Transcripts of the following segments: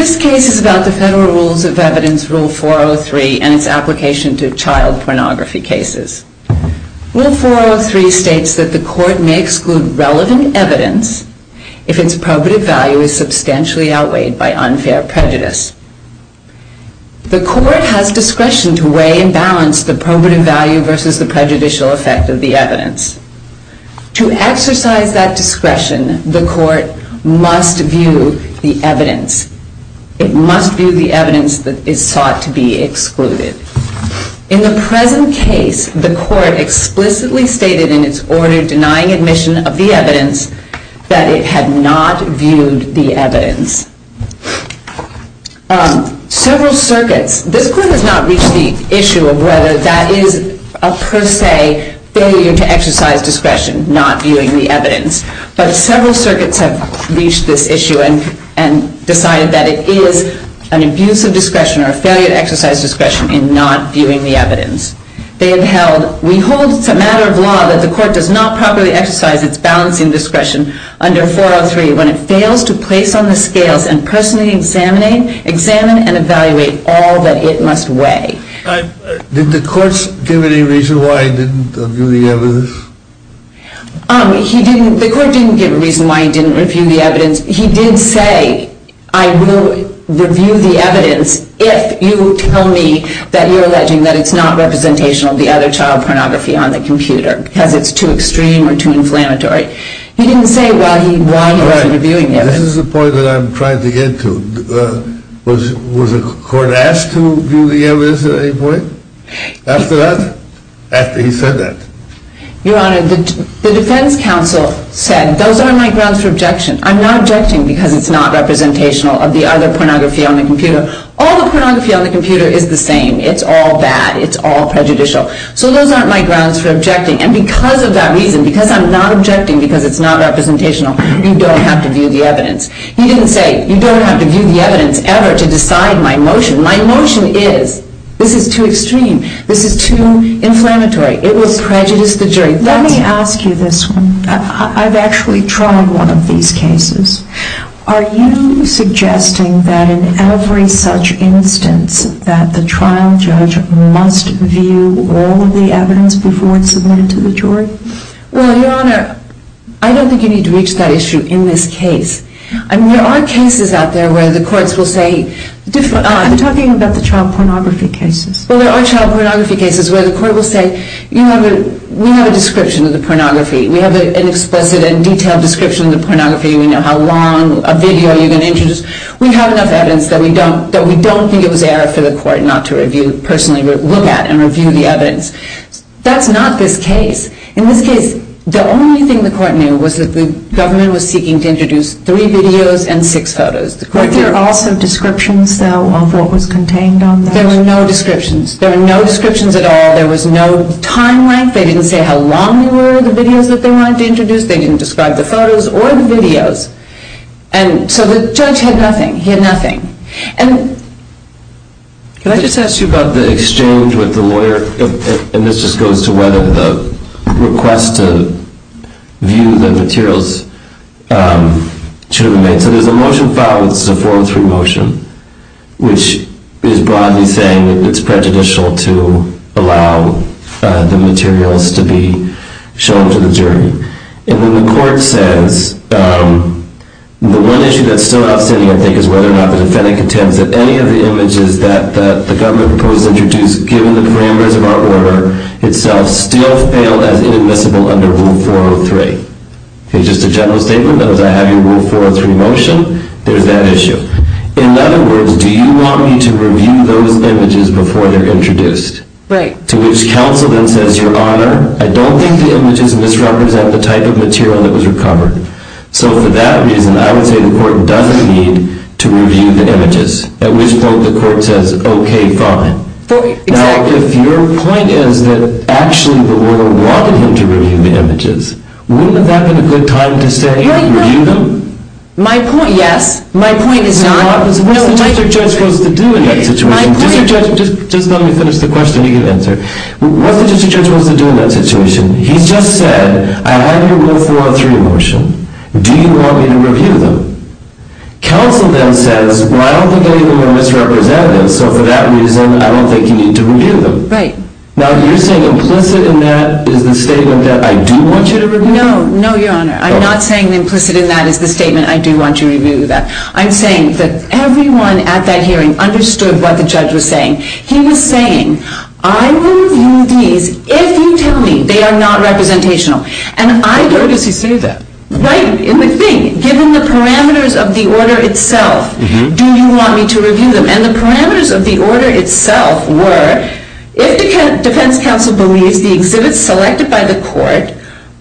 This case is about the Federal Rules of Evidence Rule 403 and its application to child pornography cases. Rule 403 states that the court may exclude relevant evidence if its probative value is substantially outweighed by unfair prejudice. The court has discretion to weigh and balance the probative value versus the prejudicial effect of the evidence. To exercise that discretion, the court must view the evidence that is sought to be excluded. In the present case, the court explicitly stated in its order denying admission of the evidence that it had not viewed the evidence. Several circuits, this court has not reached the issue of whether that is a per se failure to exercise discretion, not viewing the evidence, but several circuits have reached this issue and decided that it is an abuse of discretion or a failure to exercise discretion in not viewing the evidence. They have held, we hold it's a matter of law that the court does not properly exercise its balance in discretion under 403 when it fails to place on the scales and personally examine and evaluate all that it must weigh. Did the courts give any reason why it didn't view the evidence? The court didn't give a reason why it didn't review the evidence. He did say, I will review the evidence if you tell me that you're alleging that it's not representational of the other child pornography on the computer because it's too extreme or too inflammatory. He didn't say why he wasn't reviewing the evidence. This is the point that I'm trying to get to. Was the court asked to view the evidence at any point? After that? After he said that? Your Honor, the defense counsel said, those aren't my grounds for objection. I'm not objecting because it's not representational of the other pornography on the computer. All the pornography on the computer is the same. It's all bad. It's all prejudicial. So those aren't my grounds for objecting. And because of that reason, because I'm not objecting because it's not representational, you don't have to view the evidence. He didn't say, you don't have to view the evidence ever to decide my motion. My motion is, this is too extreme. This is too inflammatory. It will prejudice the jury. Let me ask you this one. I've actually tried one of these cases. Are you suggesting that in every such instance that the trial judge must view all of the evidence before it's submitted to the jury? Well, Your Honor, I don't think you need to reach that issue in this case. I mean, there are cases out there where the courts will say different. I'm talking about the child pornography cases. Well, there are child pornography cases where the court will say, we have a description of the pornography. We have an explicit and detailed description of the pornography. We know how long a video you're going to introduce. We have enough evidence that we don't think it was error for the court not to personally look at and review the evidence. That's not this case. In this case, the only thing the court knew was that the government was seeking to introduce three videos and six photos. Were there also descriptions, though, of what was contained on those? There were no descriptions. There were no descriptions at all. There was no time length. They didn't say how long they were, the videos that they wanted to introduce. They didn't describe the photos or the videos. And so the judge had nothing. He had nothing. And can I just ask you about the exchange with the lawyer? And this just goes to whether the request to view the materials should have been made. So there's a motion filed. This is a 403 motion, which is broadly saying that it's prejudicial to allow the materials to be shown to the jury. And then the court says, the one issue that's still outstanding, I think, is whether or not the defendant contends that any of the images that the government proposed to introduce, given the parameters of our order itself, still fail as inadmissible under Rule 403. Just a general statement. As I have your Rule 403 motion, there's that issue. In other words, do you want me to review those images before they're introduced? Right. To which counsel then says, Your Honor, I don't think the images misrepresent the type of material that was recovered. So for that reason, I would say the court doesn't need to review the images, at which point the court says, OK, fine. Now, if your point is that actually the lawyer wanted him to review the images, wouldn't that have been a good time to stay and review them? My point, yes. My point is not. What's the district judge supposed to do in that situation? Just let me finish the question. You can answer. What's the district judge supposed to do in that situation? He's just said, I have your Rule 403 motion. Do you want me to review them? Counsel then says, well, I don't think any of them are misrepresented. So for that reason, I don't think you need to review them. Right. Now, you're saying implicit in that is the statement that I do want you to review them? No. No, Your Honor. I'm not saying implicit in that is the statement I do want you to review that. I'm saying that everyone at that hearing understood what the judge was saying. He was saying, I will review these if you tell me they are not representational. And I noticed he said that. Right. And the thing, given the parameters of the order itself, do you want me to review them? And the parameters of the order itself were, if the defense counsel believes the exhibits selected by the court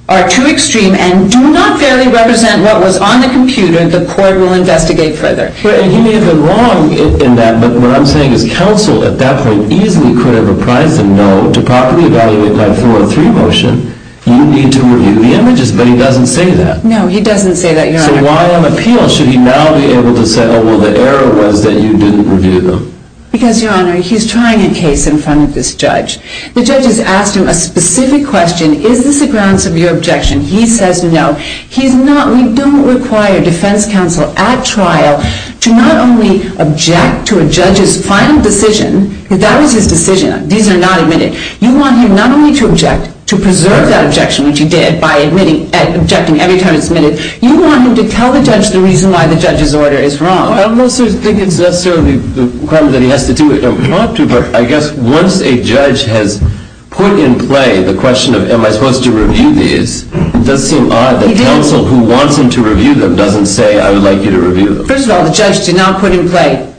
are too extreme and do not fairly represent what was on the computer, the court will investigate further. And he may have been wrong in that. But what I'm saying is counsel at that point easily could have reprised the no to properly evaluate my 403 motion. You need to review the images. But he doesn't say that. No, he doesn't say that, Your Honor. So why on appeal should he now be able to say, oh, well, the error was that you didn't review them? Because, Your Honor, he's trying a case in front of this judge. The judge has asked him a specific question. Is this a grounds of your objection? He says no. He's not. We don't require defense counsel at trial to not only object to a judge's final decision, because that was his decision. These are not admitted. You want him not only to object, to preserve that objection, which he did, by objecting every time it's admitted. You want him to tell the judge the reason why the judge's order is wrong. I don't necessarily think it's necessarily the crime that he has to do it. I don't want to, but I guess once a judge has put in play the question of, am I supposed to review these, it does seem odd that counsel who wants him to review them doesn't say, I would like you to review them. First of all, the judge did not put in play,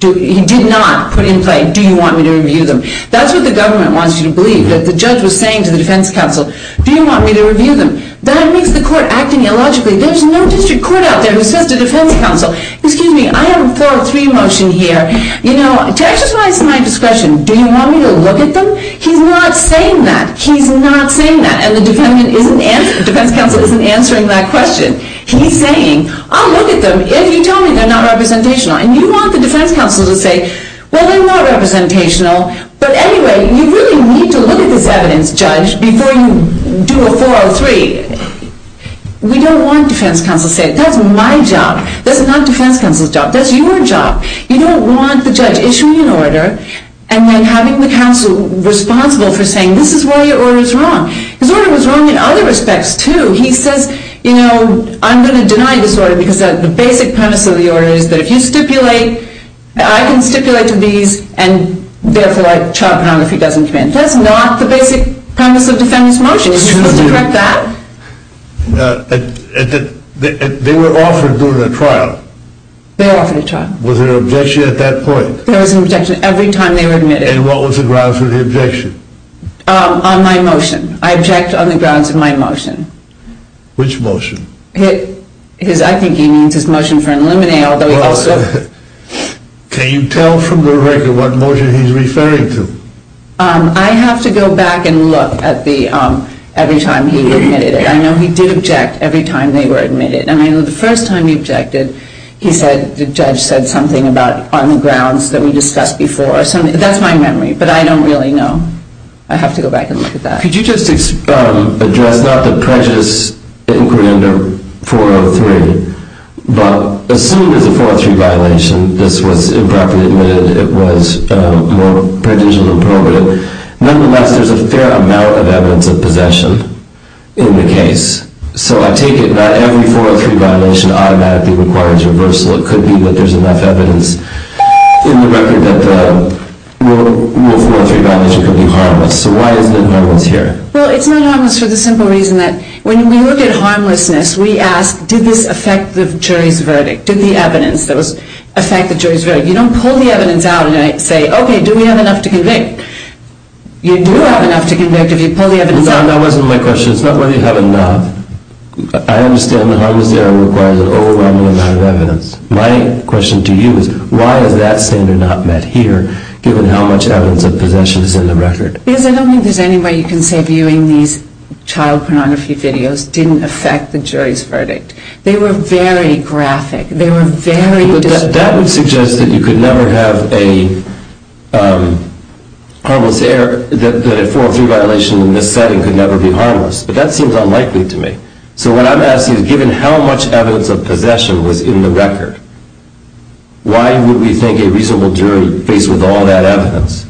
he did not put in play, do you want me to review them? That's what the government wants you to believe, that the judge was saying to the defense counsel, do you want me to review them? That means the court acting illogically. There's no district court out there who says to defense counsel, excuse me, I have a 403 motion here. You know, to exercise my discretion, do you want me to look at them? He's not saying that. He's not saying that. And the defense counsel isn't answering that question. He's saying, I'll look at them if you tell me they're not representational. And you want the defense counsel to say, well, they're not representational. But anyway, you really need to look at this evidence, judge, before you do a 403. We don't want defense counsel to say, that's my job. That's not defense counsel's job. That's your job. You don't want the judge issuing an order and then having the counsel responsible for saying, this is why your order is wrong. His order was wrong in other respects, too. He says, you know, I'm going to deny this order because the basic premise of the order is that if you stipulate, I can stipulate to these, and therefore child pornography doesn't come in. That's not the basic premise of defendant's motion. Excuse me. Is it correct that? They were offered during the trial. They offered a trial. Was there an objection at that point? There was an objection every time they were admitted. And what was the grounds for the objection? On my motion. I object on the grounds of my motion. Which motion? I think he means his motion for an eliminate, although he also. Can you tell from the record what motion he's referring to? I have to go back and look at the every time he admitted it. I know he did object every time they were admitted. And I know the first time he objected, he said the judge said something about on the grounds that we discussed before. So that's my memory. But I don't really know. I have to go back and look at that. Could you just address not the prejudice inquiry under 403, but assume there's a 403 violation. This was improperly admitted. It was more prudential than probative. Nonetheless, there's a fair amount of evidence of possession in the case. So I take it not every 403 violation automatically requires reversal. It could be that there's enough evidence in the record that the rule 403 violation could be harmless. So why isn't it harmless here? Well, it's not harmless for the simple reason that when we look at harmlessness, we ask did this affect the jury's verdict, did the evidence that was affect the jury's verdict. You don't pull the evidence out and say, okay, do we have enough to convict? That wasn't my question. It's not whether you have enough. I understand the harmless error requires an overwhelming amount of evidence. My question to you is why is that standard not met here, given how much evidence of possession is in the record? Because I don't think there's any way you can say viewing these child pornography videos didn't affect the jury's verdict. They were very graphic. That would suggest that you could never have a harmless error, that a 403 violation in this setting could never be harmless. But that seems unlikely to me. So what I'm asking is given how much evidence of possession was in the record, why would we think a reasonable jury, faced with all that evidence,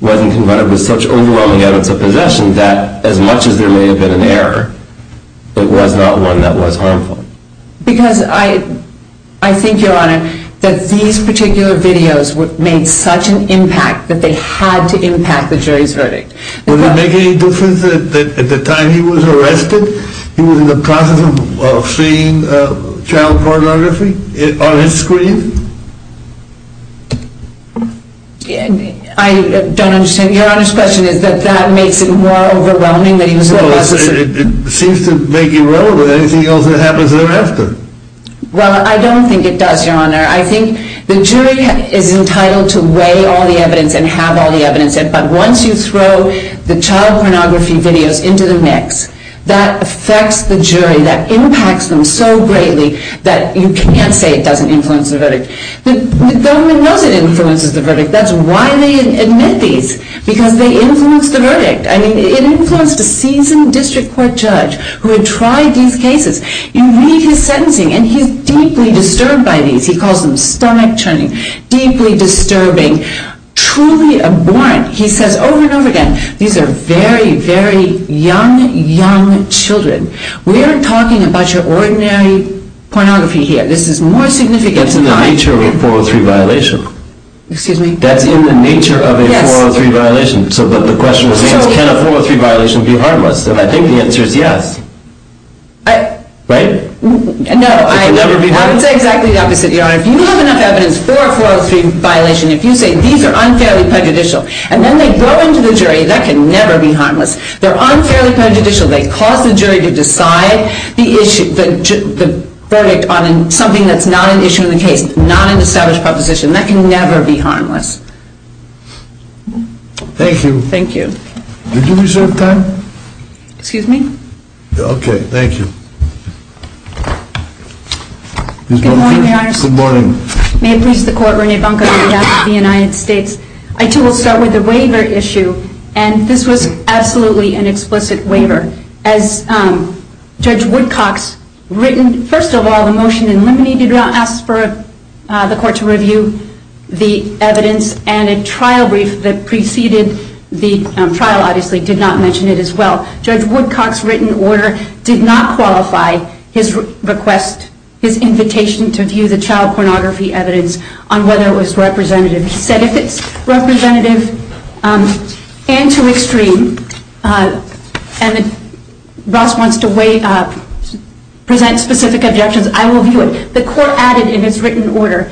wasn't confronted with such overwhelming evidence of possession that, as much as there may have been an error, it was not one that was harmful? Because I think, Your Honor, that these particular videos made such an impact that they had to impact the jury's verdict. Would it make any difference that at the time he was arrested, he was in the process of seeing child pornography on his screen? I don't understand. Your Honor's question is that that makes it more overwhelming that he was in the process of… It seems to make irrelevant anything else that happens thereafter. Well, I don't think it does, Your Honor. I think the jury is entitled to weigh all the evidence and have all the evidence, but once you throw the child pornography videos into the mix, that affects the jury, that impacts them so greatly that you can't say it doesn't influence the verdict. The government knows it influences the verdict. That's why they admit these, because they influence the verdict. I mean, it influenced a seasoned district court judge who had tried these cases. You read his sentencing, and he's deeply disturbed by these. He calls them stomach-churning, deeply disturbing, truly abhorrent. He says over and over again, these are very, very young, young children. We aren't talking about your ordinary pornography here. This is more significant than… That's in the nature of a 403 violation. Excuse me? That's in the nature of a 403 violation. But the question is, can a 403 violation be harmless? And I think the answer is yes. Right? No, I would say exactly the opposite, Your Honor. If you have enough evidence for a 403 violation, if you say these are unfairly prejudicial and then they go into the jury, that can never be harmless. They're unfairly prejudicial. They cause the jury to decide the verdict on something that's not an issue in the case, not an established proposition. That can never be harmless. Thank you. Thank you. Did you reserve time? Excuse me? Okay. Thank you. Good morning, Your Honor. Good morning. May it please the Court, Rene Bunker, the Judge of the United States. I, too, will start with the waiver issue. And this was absolutely an explicit waiver. As Judge Woodcock's written, first of all, the motion eliminated and asked for the Court to review the evidence, and a trial brief that preceded the trial, obviously, did not mention it as well. Judge Woodcock's written order did not qualify his request, his invitation to view the child pornography evidence on whether it was representative. He said if it's representative and too extreme, and Ross wants to present specific objections, I will view it. The Court added in its written order,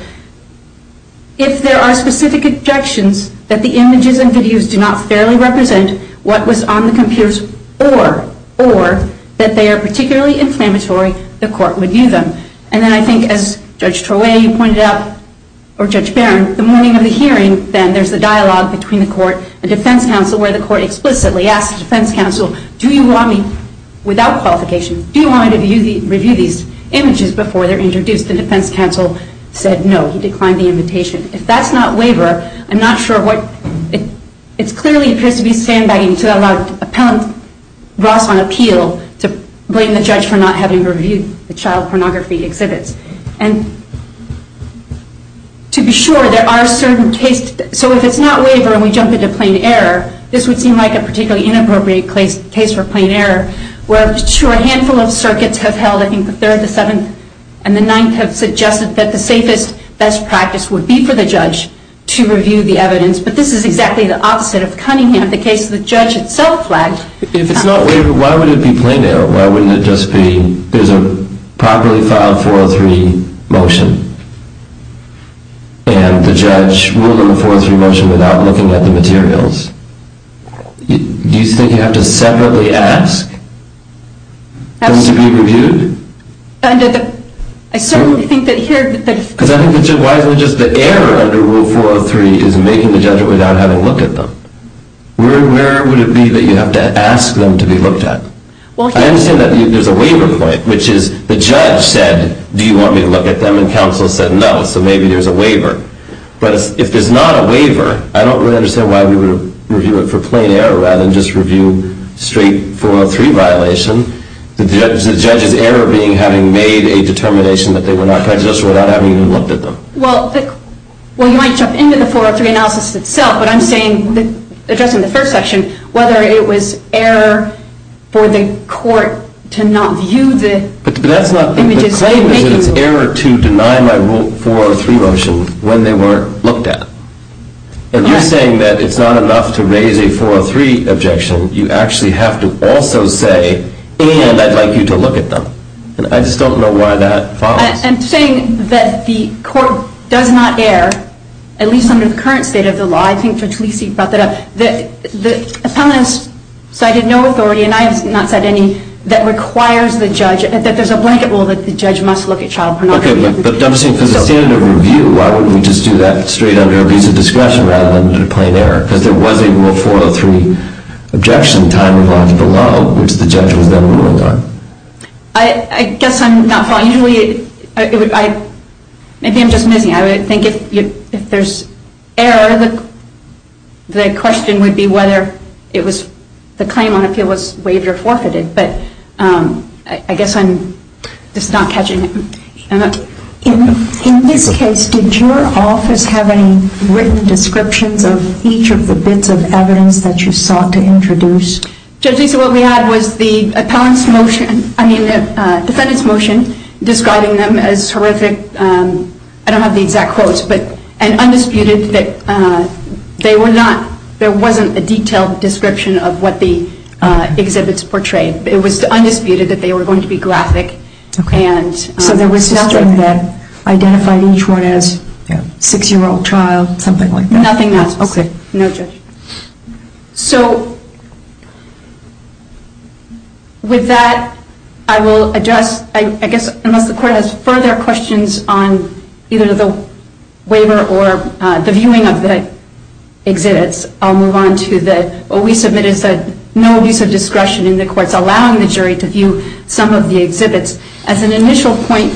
if there are specific objections that the images and videos do not fairly represent what was on the computers or that they are particularly inflammatory, the Court would view them. And then I think, as Judge Troya, you pointed out, or Judge Barron, the morning of the hearing, then, there's the dialogue between the Court and defense counsel where the Court explicitly asks defense counsel, do you want me, without qualification, do you want me to review these images before they're introduced? The defense counsel said no. He declined the invitation. If that's not waiver, I'm not sure what, it clearly appears to be sandbagging to allow appellant Ross on appeal to blame the judge for not having reviewed the child pornography exhibits. And to be sure, there are certain cases, so if it's not waiver and we jump into plain error, this would seem like a particularly inappropriate case for plain error, where a handful of circuits have held, I think the third, the seventh, and the ninth have suggested that the safest best practice would be for the judge to review the evidence. But this is exactly the opposite of Cunningham, the case the judge itself flagged. If it's not waiver, why would it be plain error? Why wouldn't it just be there's a properly filed 403 motion and the judge ruled on the 403 motion without looking at the materials? Do you think you have to separately ask them to be reviewed? I certainly think that here... Because I think why isn't it just the error under rule 403 is making the judgment without having looked at them? Where would it be that you have to ask them to be looked at? I understand that there's a waiver point, which is the judge said, do you want me to look at them? And counsel said no, so maybe there's a waiver. But if there's not a waiver, I don't really understand why we would review it for plain error rather than just review straight 403 violation, the judge's error being having made a determination that they were not prejudicial without having even looked at them. Well, you might jump into the 403 analysis itself, but I'm saying, addressing the first section, whether it was error for the court to not view the images... But that's not... The claim is that it's error to deny my rule 403 motion when they weren't looked at. And you're saying that it's not enough to raise a 403 objection. You actually have to also say, and I'd like you to look at them. And I just don't know why that follows. I'm saying that the court does not err, at least under the current state of the law. I think Judge Lisi brought that up. The appellant has cited no authority, and I have not cited any, that requires the judge, that there's a blanket rule that the judge must look at child pornography. Okay, but I'm saying, for the standard of review, why wouldn't we just do that straight under a piece of discretion rather than a plain error? Because there was a rule 403 objection, time of life below, which the judge was then ruling on. I guess I'm not following. Usually it would... Maybe I'm just missing. I would think if there's error, the question would be whether the claim on appeal was waived or forfeited. But I guess I'm just not catching it. In this case, did your office have any written descriptions of each of the bits of evidence that you sought to introduce? Judge Lisi, what we had was the defendant's motion describing them as horrific. I don't have the exact quotes. And undisputed that there wasn't a detailed description of what the exhibits portrayed. It was undisputed that they were going to be graphic. So there was nothing that identified each one as a 6-year-old child, something like that? Nothing else. Okay. No, Judge. So with that, I will address, I guess, unless the court has further questions on either the waiver or the viewing of the exhibits, I'll move on to what we submitted, no abuse of discretion in the courts, allowing the jury to view some of the exhibits. As an initial point,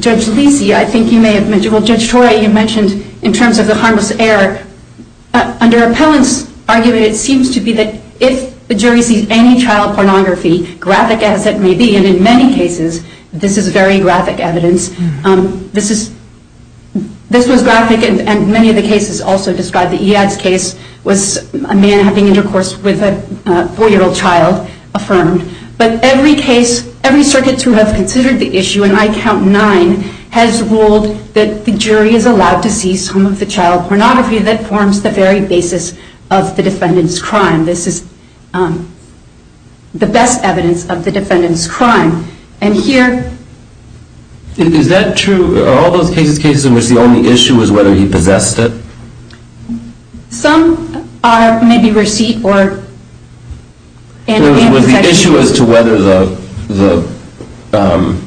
Judge Lisi, I think you may have mentioned, well, Judge Torrey, you mentioned in terms of the harmless error. Under appellant's argument, it seems to be that if the jury sees any child pornography, graphic as it may be, and in many cases, this is very graphic evidence, this was graphic and many of the cases also describe the EADS case was a man having intercourse with a 4-year-old child affirmed. But every case, every circuit to have considered the issue, and I count nine, has ruled that the jury is allowed to see some of the child pornography that forms the very basis of the defendant's crime. This is the best evidence of the defendant's crime. And here... Is that true? Are all those cases cases in which the only issue was whether he possessed it? Some are maybe receipt or... It was the issue as to whether the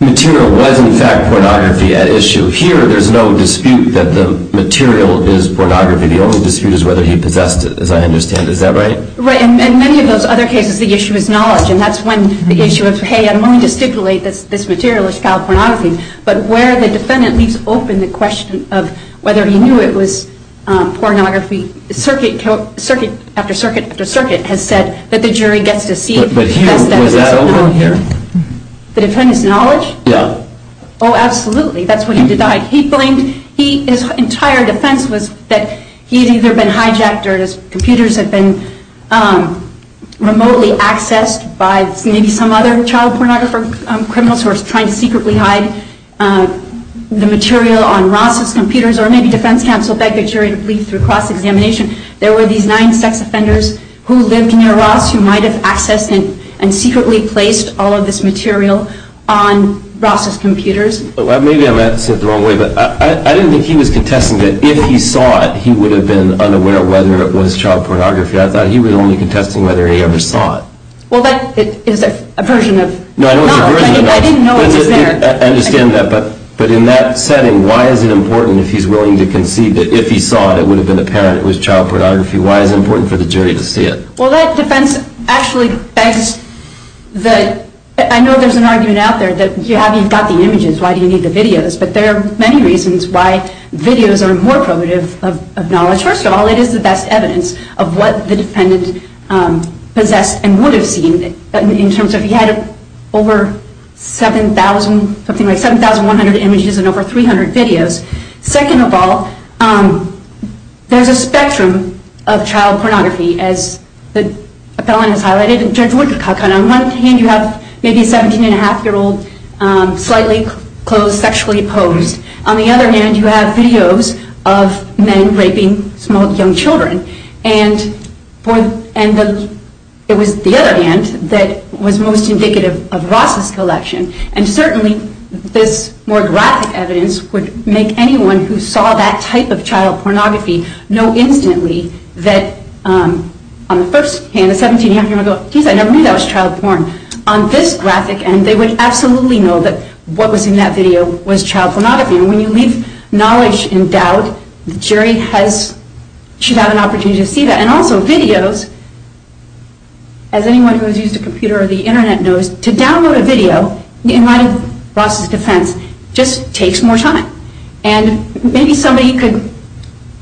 material was in fact pornography at issue. Here, there's no dispute that the material is pornography. The only dispute is whether he possessed it, as I understand. Is that right? Right. In many of those other cases, the issue is knowledge, and that's when the issue of, hey, I'm willing to stipulate this material is child pornography. But where the defendant leaves open the question of whether he knew it was pornography, circuit after circuit after circuit has said that the jury gets to see... But here, was that open here? The defendant's knowledge? Yeah. Oh, absolutely. That's what he denied. He blamed... His entire defense was that he had either been hijacked or his computers had been remotely accessed by maybe some other child pornography criminal source trying to secretly hide the material on Ross's computers, or maybe defense counsel begged the jury to plead through cross-examination. There were these nine sex offenders who lived near Ross who might have accessed and secretly placed all of this material on Ross's computers. Maybe I'm at it the wrong way, but I didn't think he was contesting that if he saw it, he would have been unaware whether it was child pornography. I thought he was only contesting whether he ever saw it. Well, that is a version of... No, I know it's a version of that. I didn't know it was there. I understand that, but in that setting, why is it important if he's willing to concede that if he saw it, it would have been apparent it was child pornography? Why is it important for the jury to see it? Well, that defense actually begs the... I know there's an argument out there that you haven't got the images. Why do you need the videos? But there are many reasons why videos are more probative of knowledge. First of all, it is the best evidence of what the defendant possessed and would have seen in terms of... He had over 7,000, something like 7,100 images and over 300 videos. Second of all, there's a spectrum of child pornography, as the appellant has highlighted. Judge Woodcock, on one hand, you have maybe a 17-and-a-half-year-old slightly closed, sexually opposed. On the other hand, you have videos of men raping small, young children. And it was the other hand that was most indicative of Ross's collection. And certainly, this more graphic evidence would make anyone who saw that type of child pornography know instantly that, on the first hand, a 17-and-a-half-year-old would go, geez, I never knew that was child porn. On this graphic end, they would absolutely know that what was in that video was child pornography. And when you leave knowledge in doubt, the jury should have an opportunity to see that. And also, videos, as anyone who has used a computer or the Internet knows, to download a video in light of Ross's defense just takes more time. And maybe somebody could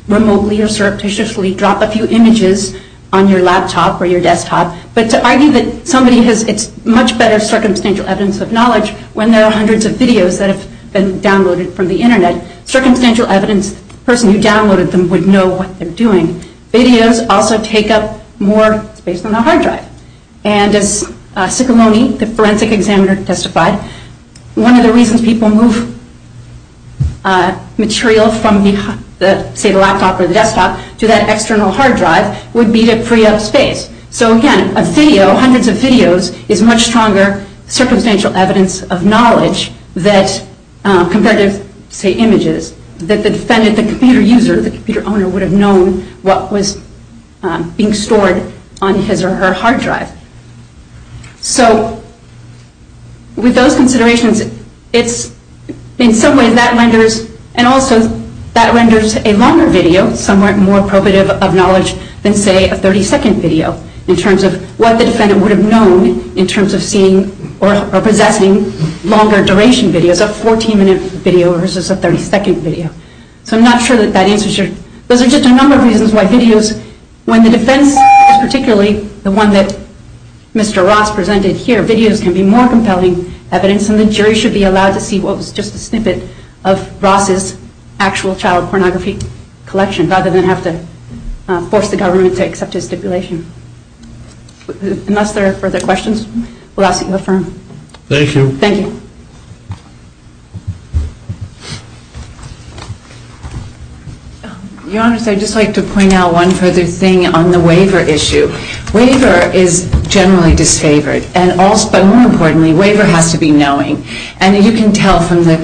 remotely or surreptitiously drop a few images on your laptop or your desktop, but to argue that somebody has... It's much better circumstantial evidence of knowledge when there are hundreds of videos that have been downloaded from the Internet. Circumstantial evidence, the person who downloaded them would know what they're doing. Videos also take up more space than a hard drive. And as Ciccoloni, the forensic examiner, testified, one of the reasons people move material from, say, the laptop or the desktop to that external hard drive would be to free up space. So again, a video, hundreds of videos, is much stronger circumstantial evidence of knowledge that, compared to, say, images, that the defendant, the computer user, the computer owner, would have known what was being stored on his or her hard drive. So, with those considerations, it's, in some ways, that renders... And also, that renders a longer video somewhere more appropriate of knowledge than, say, a 30-second video in terms of what the defendant would have known in terms of seeing or possessing longer-duration videos, a 14-minute video versus a 30-second video. So I'm not sure that that answers your... Those are just a number of reasons why videos, when the defense is particularly the one that Mr. Ross presented here, videos can be more compelling evidence, and the jury should be allowed to see what was just a snippet of Ross's actual child pornography collection rather than have to force the government to accept his stipulation. Unless there are further questions, we'll ask that you affirm. Thank you. Thank you. Your Honor, I'd just like to point out one further thing on the waiver issue. Waiver is generally disfavored, but more importantly, waiver has to be knowing. And you can tell from the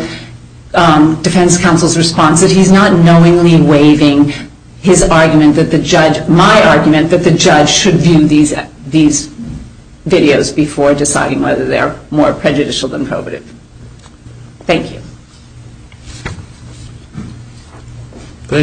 defense counsel's response that he's not knowingly waiving his argument and my argument that the judge should view these videos before deciding whether they're more prejudicial than prohibitive. Thank you.